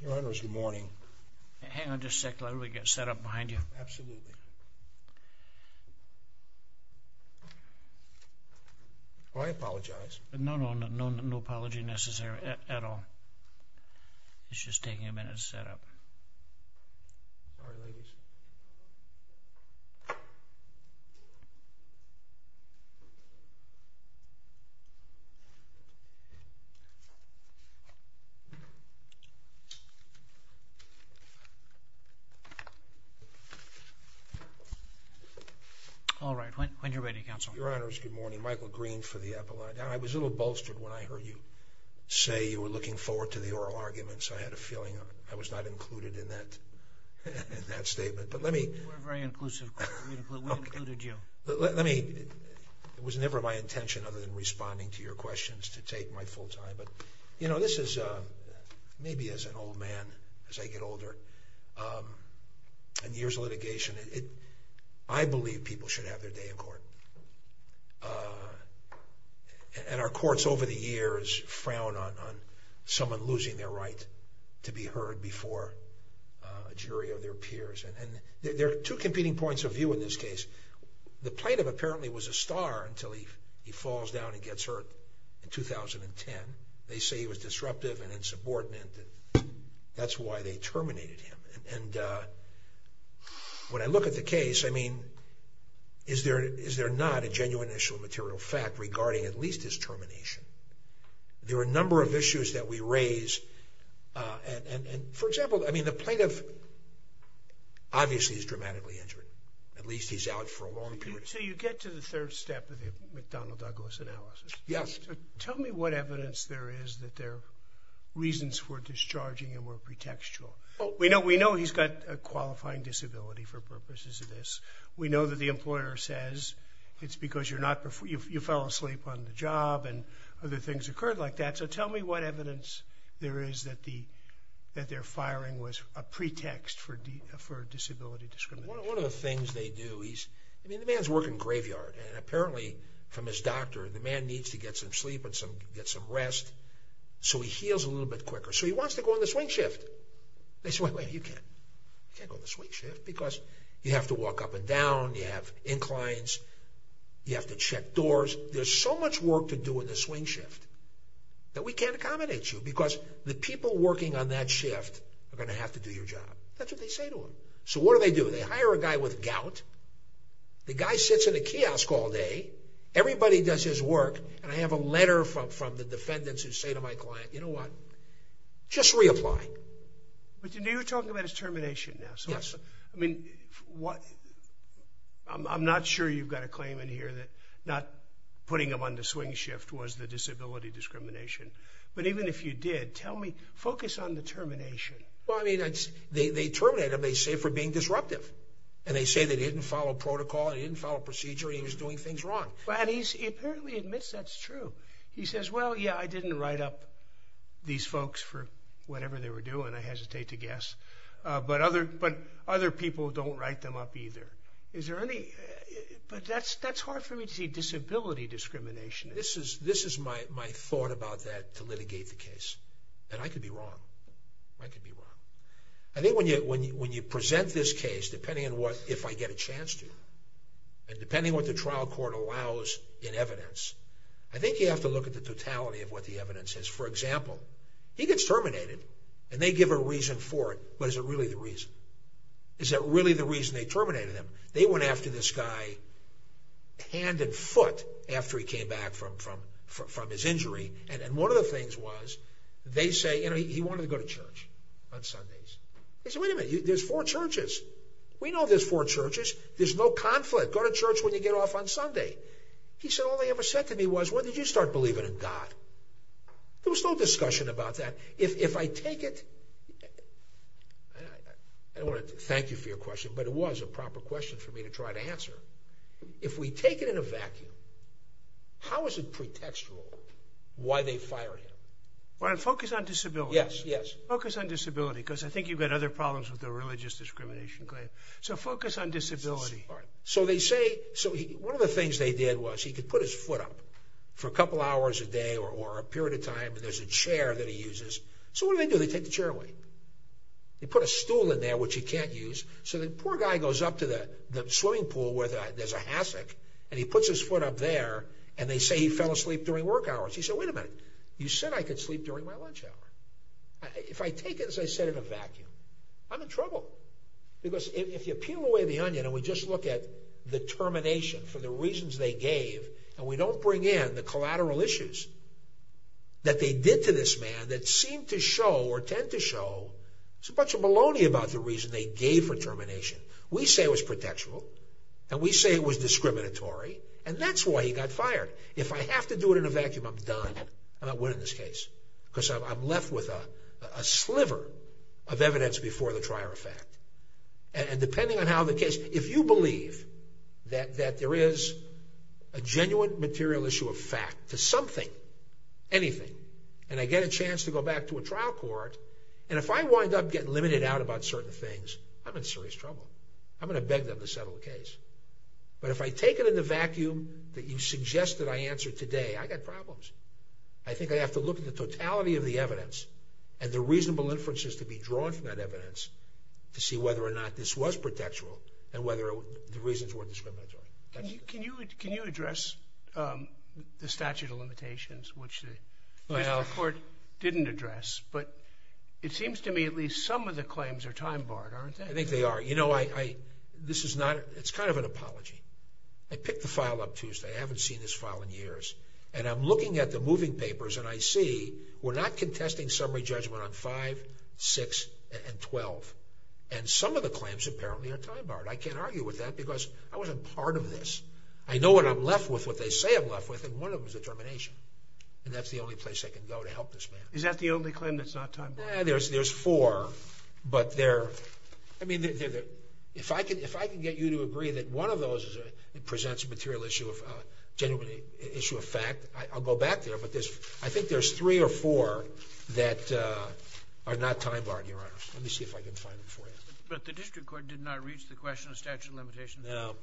Your Honor, it's good morning. Hang on just a sec, let me get set up behind you. Absolutely. Well, I apologize. No, no, no, no apology necessary at all. It's just taking a minute to set up. All right, ladies. All right, when you're ready, Counsel. Your Honor, it's good morning. Michael Green for the Apple Eye. I was a little bolstered when I heard you say you were looking forward to the oral arguments. I had a feeling I was not included in that statement. We're very inclusive. We included you. It was never my intention, other than responding to your questions, to take my full time. But this is maybe as an old man, as I get older, and years of litigation, I believe people should have their day in court. And our courts over the years frown on someone losing their right to be heard before a jury or their peers. And there are two competing points of view in this case. The plaintiff apparently was a star until he falls down and gets hurt in 2010. They say he was disruptive and insubordinate. That's why they terminated him. And when I look at the case, I mean, is there not a genuine issue of material fact regarding at least his termination? There are a number of issues that we raise. And, for example, I mean, the plaintiff obviously is dramatically injured. At least he's out for a long period. So you get to the third step of the McDonnell-Douglas analysis. Yes. Tell me what evidence there is that there are reasons for discharging him or pretextual. We know he's got a qualifying disability for purposes of this. We know that the employer says it's because you fell asleep on the job and other things occurred like that. So tell me what evidence there is that their firing was a pretext for disability discrimination. One of the things they do is, I mean, the man's working graveyard. And apparently from his doctor, the man needs to get some sleep and get some rest. So he heals a little bit quicker. So he wants to go on the swing shift. They say, wait, wait, you can't. You can't go on the swing shift because you have to walk up and down. You have inclines. You have to check doors. There's so much work to do in the swing shift that we can't accommodate you because the people working on that shift are going to have to do your job. That's what they say to him. So what do they do? They hire a guy with gout. The guy sits in a kiosk all day. Everybody does his work. And I have a letter from the defendants who say to my client, you know what, just reapply. But you're talking about his termination now. Yes. I mean, I'm not sure you've got a claim in here that not putting him on the swing shift was the disability discrimination. But even if you did, tell me, focus on the termination. Well, I mean, they terminated him, they say, for being disruptive. And they say that he didn't follow protocol and he didn't follow procedure and he was doing things wrong. And he apparently admits that's true. He says, well, yeah, I didn't write up these folks for whatever they were doing, I hesitate to guess, but other people don't write them up either. But that's hard for me to see, disability discrimination. This is my thought about that to litigate the case. And I could be wrong. I could be wrong. I think when you present this case, depending on what, if I get a chance to, and depending on what the trial court allows in evidence, I think you have to look at the totality of what the evidence is. For example, he gets terminated and they give a reason for it, but is it really the reason? Is it really the reason they terminated him? They went after this guy hand and foot after he came back from his injury. And one of the things was they say he wanted to go to church on Sundays. They said, wait a minute, there's four churches. We know there's four churches. There's no conflict. Go to church when you get off on Sunday. He said, all they ever said to me was, when did you start believing in God? There was no discussion about that. If I take it, I don't want to thank you for your question, but it was a proper question for me to try to answer. If we take it in a vacuum, how is it pretextual why they fired him? Well, focus on disability. Yes, yes. Focus on disability because I think you've got other problems with the religious discrimination claim. So focus on disability. One of the things they did was he could put his foot up for a couple hours a day or a period of time, and there's a chair that he uses. So what do they do? They take the chair away. They put a stool in there, which he can't use. So the poor guy goes up to the swimming pool where there's a hassack, and he puts his foot up there, and they say he fell asleep during work hours. He said, wait a minute, you said I could sleep during my lunch hour. If I take it, as I said, in a vacuum, I'm in trouble because if you peel away the onion and we just look at the termination for the reasons they gave and we don't bring in the collateral issues that they did to this man that seem to show or tend to show there's a bunch of maloney about the reason they gave for termination. We say it was pretextual, and we say it was discriminatory, and that's why he got fired. If I have to do it in a vacuum, I'm done. I'm not winning this case because I'm left with a sliver of evidence before the trier of fact. And depending on how the case, if you believe that there is a genuine material issue of fact to something, anything, and I get a chance to go back to a trial court, and if I wind up getting limited out about certain things, I'm in serious trouble. I'm going to beg them to settle the case. But if I take it in the vacuum that you suggested I answer today, I've got problems. I think I have to look at the totality of the evidence and the reasonable inferences to be drawn from that evidence to see whether or not this was pretextual and whether the reasons were discriminatory. Can you address the statute of limitations, which the district court didn't address, but it seems to me at least some of the claims are time-barred, aren't they? I think they are. You know, this is not an apology. I picked the file up Tuesday. I haven't seen this file in years, and I'm looking at the moving papers, and I see we're not contesting summary judgment on 5, 6, and 12, and some of the claims apparently are time-barred. I can't argue with that because I wasn't part of this. I know what I'm left with, what they say I'm left with, and one of them is a termination, and that's the only place I can go to help this man. Is that the only claim that's not time-barred? There's four, but they're, I mean, if I can get you to agree that one of those presents a material issue of genuine issue of fact, I'll go back there, but I think there's three or four that are not time-barred, Your Honor. Let me see if I can find them for you. But the district court did not reach the question of statute of limitations? No.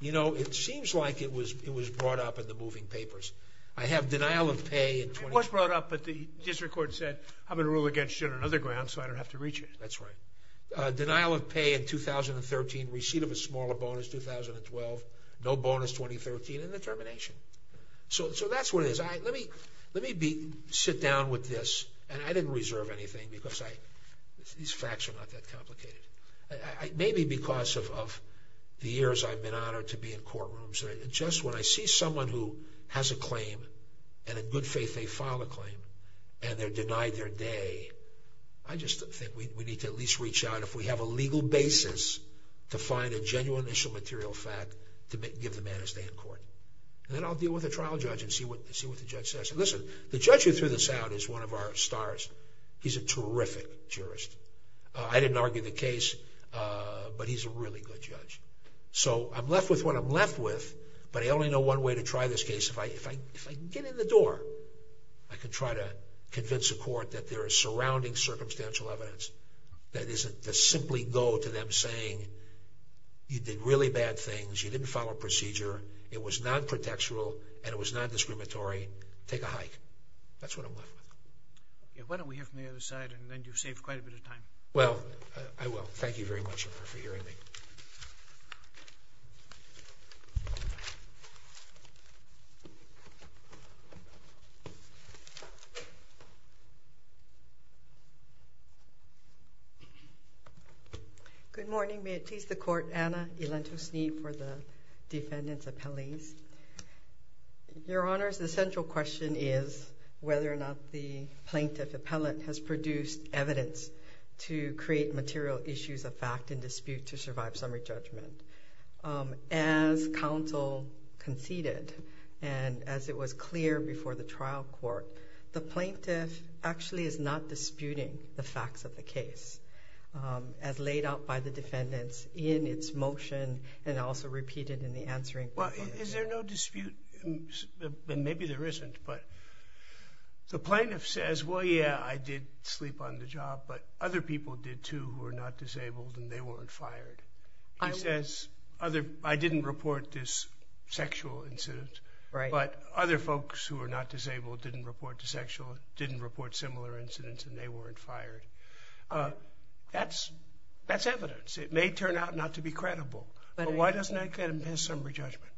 You know, it seems like it was brought up in the moving papers. I have denial of pay in 2012. It was brought up, but the district court said, I'm going to rule against you on another ground so I don't have to reach it. That's right. Denial of pay in 2013, receipt of a smaller bonus 2012, no bonus 2013, and the termination. So that's what it is. Let me sit down with this, and I didn't reserve anything because these facts are not that complicated. Maybe because of the years I've been honored to be in courtrooms, just when I see someone who has a claim, and in good faith they file a claim, and they're denied their day, I just think we need to at least reach out, if we have a legal basis, to find a genuine initial material fact to give the man his day in court. And then I'll deal with the trial judge and see what the judge says. Listen, the judge who threw this out is one of our stars. He's a terrific jurist. I didn't argue the case, but he's a really good judge. So I'm left with what I'm left with, but I only know one way to try this case. that there is surrounding circumstantial evidence. That is to simply go to them saying, you did really bad things, you didn't follow procedure, it was non-protectural, and it was non-discriminatory. Take a hike. That's what I'm left with. Why don't we hear from the other side, and then you've saved quite a bit of time. Well, I will. Thank you very much for hearing me. Good morning. May it please the Court, Anna Elantosny for the defendant's appellees. Your Honors, the central question is whether or not the plaintiff appellate has produced evidence to create material issues of fact and dispute to survive summary judgment. As counsel conceded, and as it was clear before the trial court, the plaintiff actually is not disputing the facts of the case as laid out by the defendants in its motion and also repeated in the answering. Well, is there no dispute? Maybe there isn't, but the plaintiff says, well, yeah, I did sleep on the job, but other people did too who were not disabled and they weren't fired. He says, I didn't report this sexual incident, but other folks who were not disabled didn't report similar incidents and they weren't fired. That's evidence. It may turn out not to be credible, but why doesn't that impede summary judgment?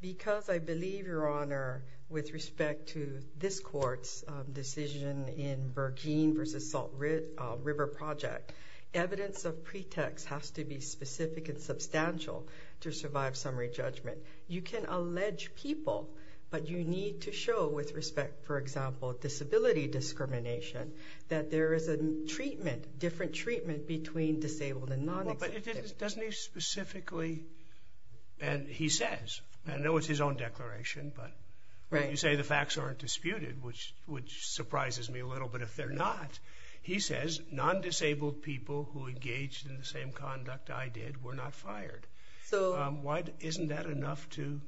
Because I believe, Your Honor, with respect to this Court's decision in Burgeen v. Salt River Project, evidence of pretext has to be specific and substantial to survive summary judgment. You can allege people, but you need to show with respect, for example, disability discrimination, that there is a treatment, different treatment, between disabled and non-disabled. But doesn't he specifically, and he says, and I know it's his own declaration, but you say the facts aren't disputed, which surprises me a little, but if they're not, he says, non-disabled people who engaged in the same conduct I did were not fired. Isn't that enough to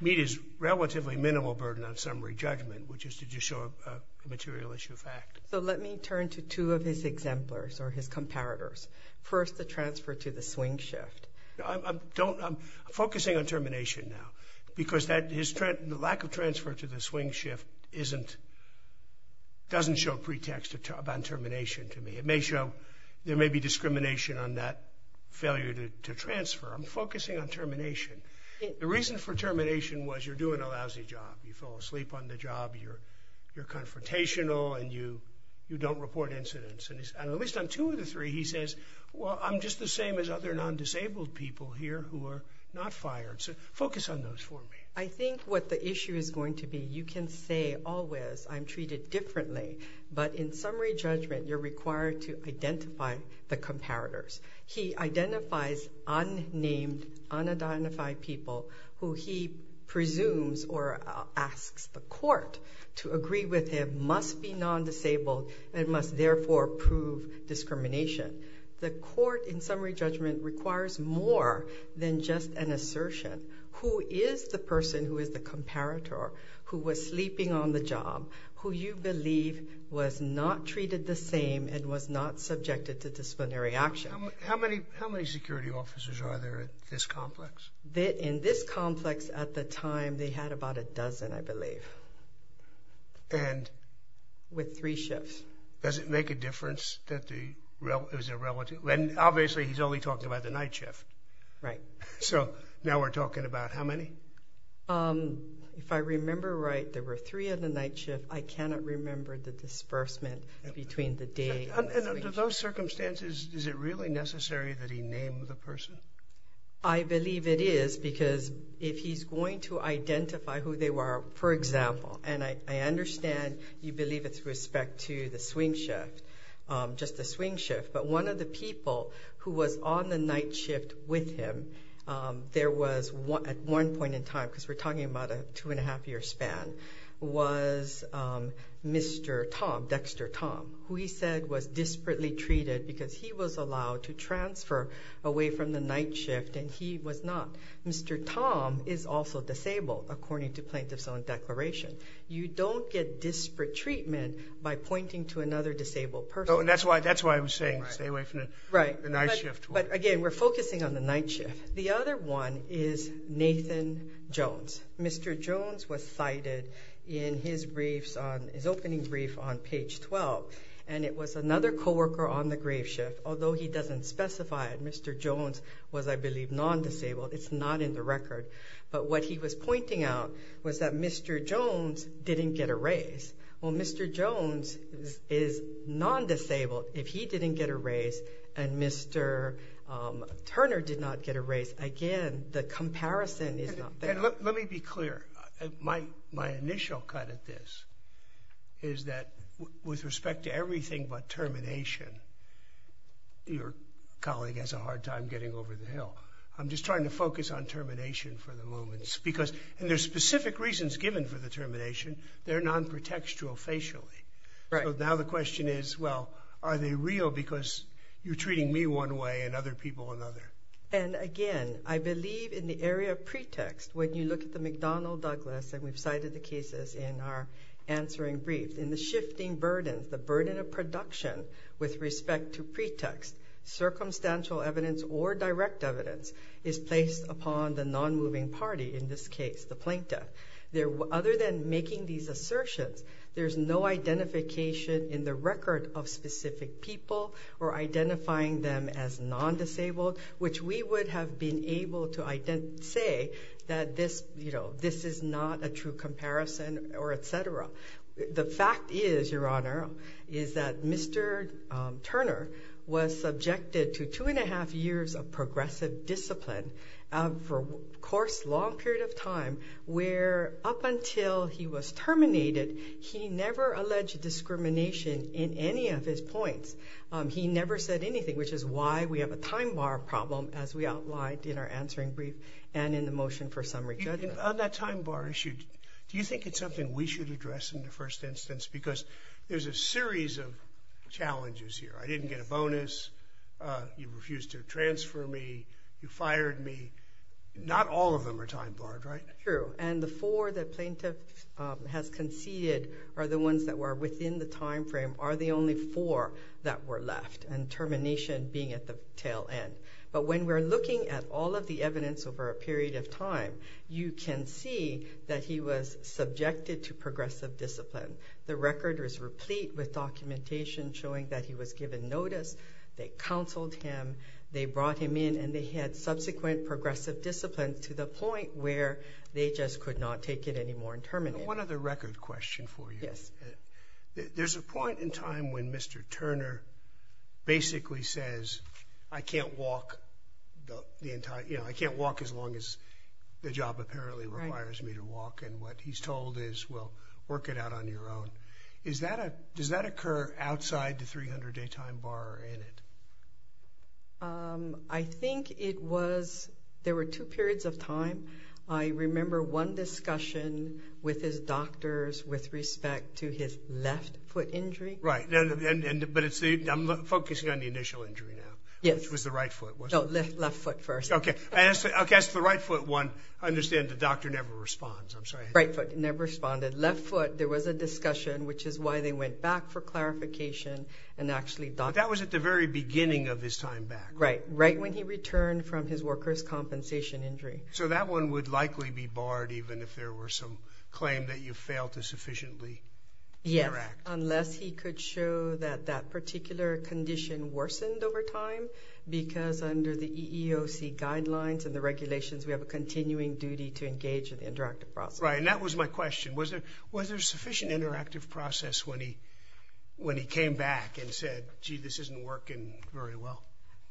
meet his relatively minimal burden on summary judgment, which is to just show a material issue of fact? So let me turn to two of his exemplars or his comparators. First, the transfer to the swing shift. I'm focusing on termination now because the lack of transfer to the swing shift doesn't show pretext on termination to me. It may show there may be discrimination on that failure to transfer. I'm focusing on termination. The reason for termination was you're doing a lousy job. You fall asleep on the job, you're confrontational, and you don't report incidents. And at least on two of the three, he says, well, I'm just the same as other non-disabled people here who are not fired. So focus on those for me. I think what the issue is going to be, you can say always I'm treated differently, but in summary judgment you're required to identify the comparators. He identifies unnamed, unidentified people who he presumes or asks the court to agree with him, must be non-disabled, and must therefore prove discrimination. The court in summary judgment requires more than just an assertion. Who is the person who is the comparator, who was sleeping on the job, who you believe was not treated the same and was not subjected to disciplinary action? How many security officers are there at this complex? In this complex at the time they had about a dozen, I believe. And? With three shifts. Does it make a difference that the relative, and obviously he's only talking about the night shift. Right. So now we're talking about how many? If I remember right, there were three on the night shift. I cannot remember the disbursement between the day. And under those circumstances, is it really necessary that he name the person? I believe it is because if he's going to identify who they were, for example, and I understand you believe it's with respect to the swing shift, just the swing shift, but one of the people who was on the night shift with him, there was at one point in time, because we're talking about a two-and-a-half-year span, was Mr. Tom, Dexter Tom, who he said was disparately treated because he was allowed to transfer away from the night shift and he was not. Mr. Tom is also disabled, according to plaintiff's own declaration. You don't get disparate treatment by pointing to another disabled person. That's why I was saying stay away from the night shift. But again, we're focusing on the night shift. The other one is Nathan Jones. Mr. Jones was cited in his opening brief on page 12, and it was another coworker on the grave shift. Although he doesn't specify it, Mr. Jones was, I believe, non-disabled. It's not in the record. But what he was pointing out was that Mr. Jones didn't get a raise. Well, Mr. Jones is non-disabled. If he didn't get a raise and Mr. Turner did not get a raise, again, the comparison is not there. Let me be clear. My initial cut at this is that with respect to everything but termination, your colleague has a hard time getting over the hill. I'm just trying to focus on termination for the moment. And there's specific reasons given for the termination. They're non-protextual facially. Right. So now the question is, well, are they real because you're treating me one way and other people another? And, again, I believe in the area of pretext, when you look at the McDonnell-Douglas, and we've cited the cases in our answering brief, in the shifting burdens, the burden of production with respect to pretext, circumstantial evidence or direct evidence is placed upon the non-moving party in this case, the plaintiff. Other than making these assertions, there's no identification in the record of specific people or identifying them as non-disabled, which we would have been able to say that this is not a true comparison, or et cetera. The fact is, Your Honor, is that Mr. Turner was subjected to two and a half years of progressive discipline for a course, long period of time, where up until he was terminated, he never alleged discrimination in any of his points. He never said anything, which is why we have a time bar problem as we outlined in our answering brief and in the motion for summary judgment. On that time bar issue, do you think it's something we should address in the first instance? Because there's a series of challenges here. I didn't get a bonus. You refused to transfer me. You fired me. Not all of them are time barred, right? True. And the four the plaintiff has conceded are the ones that were within the time frame are the only four that were left, and termination being at the tail end. But when we're looking at all of the evidence over a period of time, you can see that he was subjected to progressive discipline. The record was replete with documentation showing that he was given notice that counseled him, they brought him in, and they had subsequent progressive discipline to the point where they just could not take it anymore and terminate him. One other record question for you. Yes. There's a point in time when Mr. Turner basically says, I can't walk the entire, you know, I can't walk as long as the job apparently requires me to walk, and what he's told is, well, work it out on your own. Does that occur outside the 300 day time bar or in it? I think it was, there were two periods of time. I remember one discussion with his doctors with respect to his left foot injury. Right. But I'm focusing on the initial injury now. Yes. Which was the right foot, wasn't it? No, left foot first. Okay. I guess the right foot one, I understand the doctor never responds. I'm sorry. Right foot never responded. Left foot, there was a discussion, which is why they went back for clarification and actually done it. That was at the very beginning of his time back. Right. Right when he returned from his worker's compensation injury. So that one would likely be barred even if there were some claim that you failed to sufficiently interact. Yes, unless he could show that that particular condition worsened over time, because under the EEOC guidelines and the regulations, we have a continuing duty to engage in the interactive process. Right, and that was my question. Was there sufficient interactive process when he came back and said, gee, this isn't working very well?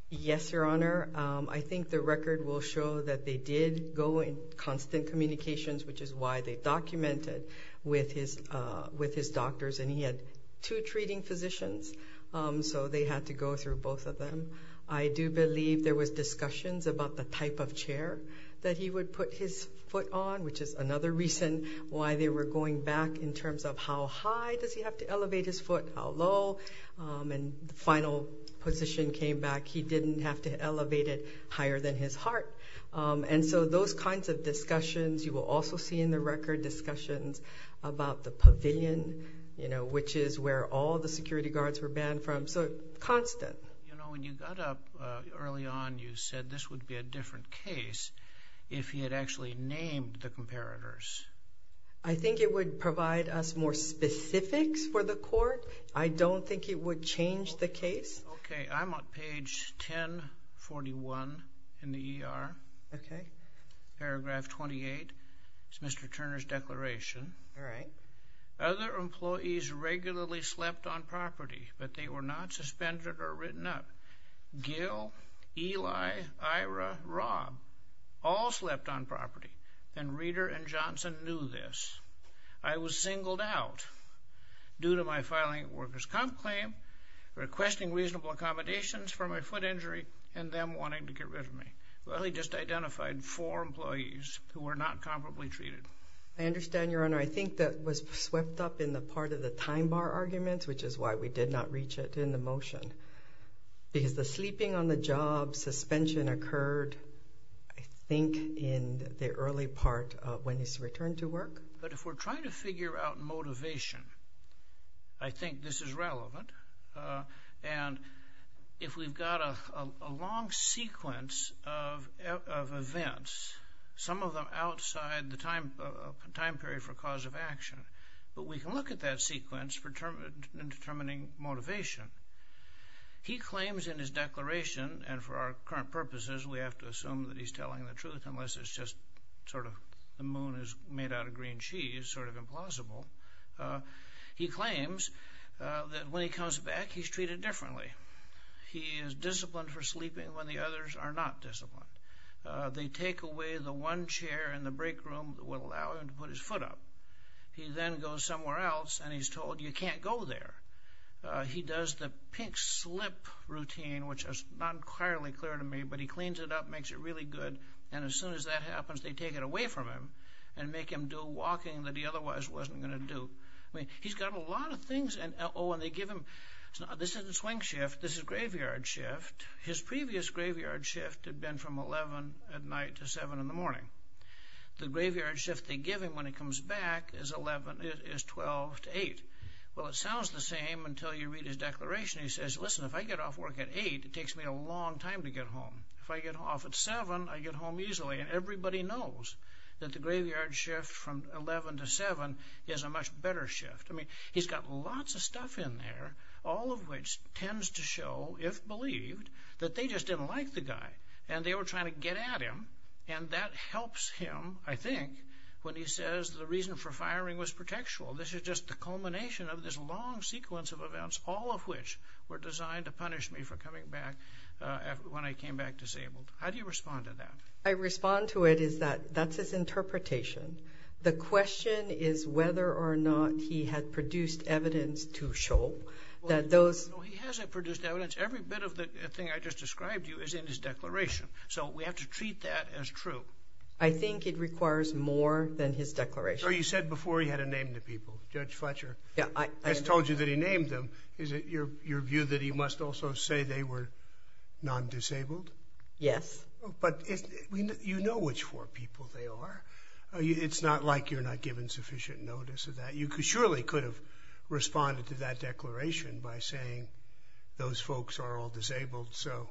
Yes, Your Honor. I think the record will show that they did go in constant communications, which is why they documented with his doctors. And he had two treating physicians, so they had to go through both of them. I do believe there was discussions about the type of chair that he would put his foot on, which is another reason why they were going back in terms of how high does he have to elevate his foot, how low. And the final position came back, he didn't have to elevate it higher than his heart. And so those kinds of discussions you will also see in the record, discussions about the pavilion, you know, which is where all the security guards were banned from. So constant. You know, when you got up early on, you said this would be a different case if he had actually named the comparators. I think it would provide us more specifics for the court. I don't think it would change the case. Okay, I'm on page 1041 in the ER. Okay. Paragraph 28, it's Mr. Turner's declaration. All right. Other employees regularly slept on property, but they were not suspended or written up. Gil, Eli, Ira, Rob, all slept on property and Reeder and Johnson knew this. I was singled out due to my filing workers comp claim, requesting reasonable accommodations for my foot injury, and them wanting to get rid of me. Well, he just identified four employees who were not comparably treated. I understand your honor. I think that was swept up in the part of the time bar arguments, which is why we did not reach it in the motion. Because the sleeping on the job suspension occurred, I think, in the early part of when he's returned to work. But if we're trying to figure out motivation, I think this is relevant. And if we've got a long sequence of events, some of them outside the time period for cause of action, but we can look at that sequence in determining motivation. He claims in his declaration, and for our current purposes, we have to assume that he's telling the truth, unless it's just sort of the moon is made out of green cheese, sort of implausible. He claims that when he comes back, he's treated differently. He is disciplined for sleeping when the others are not disciplined. They take away the one chair in the break room that would allow him to put his foot up. He then goes somewhere else, and he's told, you can't go there. He does the pink slip routine, which is not entirely clear to me, but he cleans it up, makes it really good, and as soon as that happens, they take it away from him and make him do walking that he otherwise wasn't going to do. I mean, he's got a lot of things. Oh, and they give him, this isn't swing shift, this is graveyard shift. His previous graveyard shift had been from 11 at night to 7 in the morning. The graveyard shift they give him when he comes back is 12 to 8. Well, it sounds the same until you read his declaration. He says, listen, if I get off work at 8, it takes me a long time to get home. If I get off at 7, I get home easily, and everybody knows that the graveyard shift from 11 to 7 is a much better shift. I mean, he's got lots of stuff in there, all of which tends to show, if believed, that they just didn't like the guy, and they were trying to get at him, and that helps him, I think, when he says the reason for firing was protectual. This is just the culmination of this long sequence of events, all of which were designed to punish me for coming back when I came back disabled. How do you respond to that? I respond to it is that that's his interpretation. The question is whether or not he had produced evidence to show that those... No, he hasn't produced evidence. Every bit of the thing I just described to you is in his declaration. So we have to treat that as true. I think it requires more than his declaration. You said before he had a name to people, Judge Fletcher. I just told you that he named them. Is it your view that he must also say they were non-disabled? Yes. But you know which four people they are. It's not like you're not giving sufficient notice of that. You surely could have responded to that declaration by saying those folks are all disabled, so...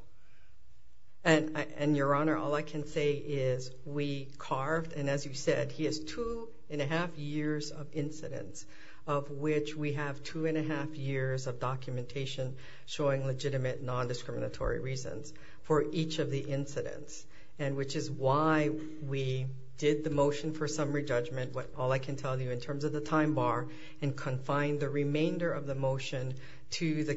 And, Your Honor, all I can say is we carved, and as you said, he has 2 1⁄2 years of incidents of which we have 2 1⁄2 years of documentation showing legitimate non-discriminatory reasons for each of the incidents, which is why we did the motion for summary judgment, all I can tell you in terms of the time bar, and confined the remainder of the motion to the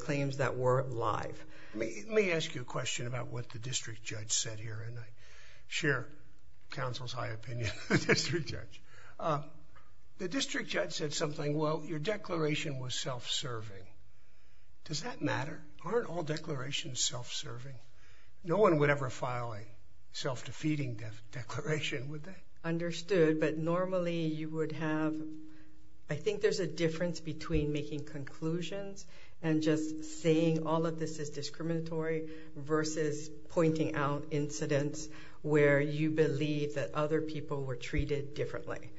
claims that were live. Let me ask you a question about what the district judge said here, and I share counsel's high opinion of the district judge. The district judge said something, well, your declaration was self-serving. Does that matter? Aren't all declarations self-serving? No one would ever file a self-defeating declaration, would they? Understood, but normally you would have... I think there's a difference between making conclusions and just saying all of this is discriminatory versus pointing out incidents where you believe that other people were treated differently.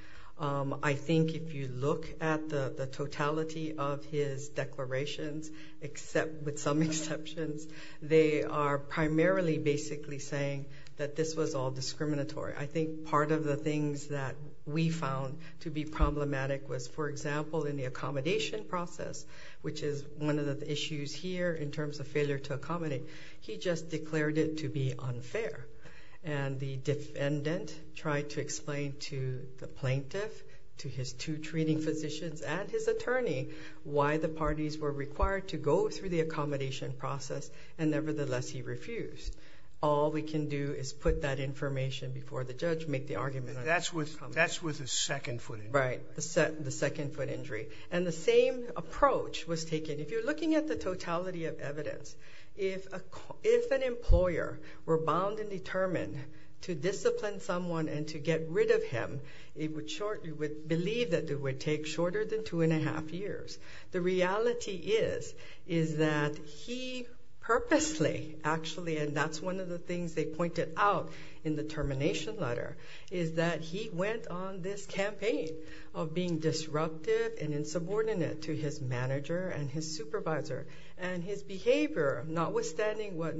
I think if you look at the totality of his declarations, with some exceptions, they are primarily basically saying that this was all discriminatory. I think part of the things that we found to be problematic was, for example, in the accommodation process, which is one of the issues here in terms of failure to accommodate. He just declared it to be unfair, and the defendant tried to explain to the plaintiff, to his two treating physicians, and his attorney, why the parties were required to go through the accommodation process, and nevertheless he refused. All we can do is put that information before the judge, make the argument... That's with the second foot injury. Right, the second foot injury. And the same approach was taken. If you're looking at the totality of evidence, if an employer were bound and determined to discipline someone and to get rid of him, you would believe that it would take shorter than 2 1⁄2 years. The reality is that he purposely, actually, and that's one of the things they pointed out in the termination letter, is that he went on this campaign of being disruptive and insubordinate to his manager and his supervisor. And his behavior, notwithstanding what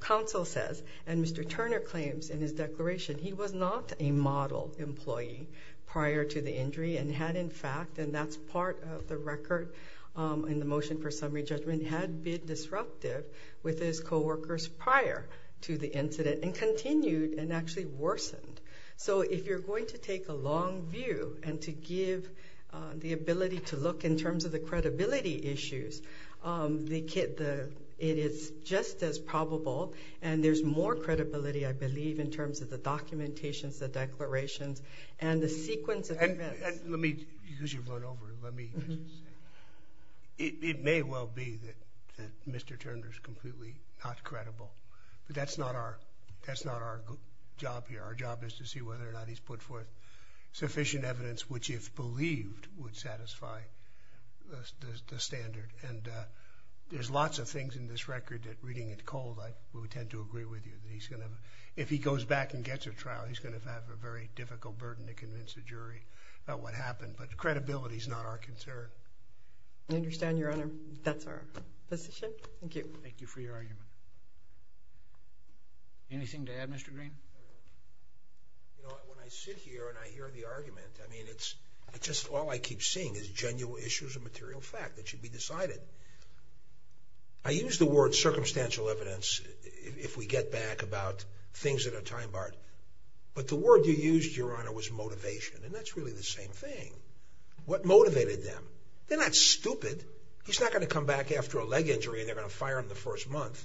counsel says and Mr. Turner claims in his declaration, he was not a model employee prior to the injury and had, in fact, and that's part of the record in the motion for summary judgment, had been disruptive with his co-workers prior to the incident and continued and actually worsened. So if you're going to take a long view and to give the ability to look in terms of the credibility issues, it is just as probable, and there's more credibility, I believe, in terms of the documentations, the declarations, and the sequence of events. Let me, because you've run over, let me just say, it may well be that Mr. Turner is completely not credible, but that's not our job here. Our job is to see whether or not he's put forth sufficient evidence which, if believed, would satisfy the standard. And there's lots of things in this record that, reading it cold, I would tend to agree with you that he's going to, if he goes back and gets a trial, he's going to have a very difficult burden to convince a jury about what happened. But credibility is not our concern. I understand, Your Honor. That's our position. Thank you. Thank you for your argument. Anything to add, Mr. Green? You know, when I sit here and I hear the argument, I mean, it's just all I keep seeing is genuine issues of material fact that should be decided. I use the word circumstantial evidence if we get back about things that are time-barred, but the word you used, Your Honor, was motivation, and that's really the same thing. What motivated them? They're not stupid. He's not going to come back after a leg injury and they're going to fire him the first month.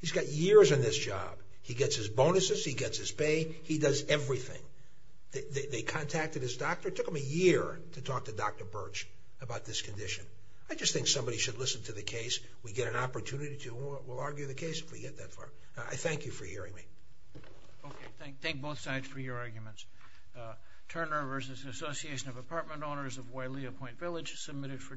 He's got years in this job. He gets his bonuses. He gets his pay. He does everything. They contacted his doctor. It took them a year to talk to Dr. Birch about this condition. I just think somebody should listen to the case. We get an opportunity to. We'll argue the case if we get that far. I thank you for hearing me. Okay. Thank both sides for your arguments. Turner v. Association of Apartment Owners of Wailia Point Village, submitted for decision.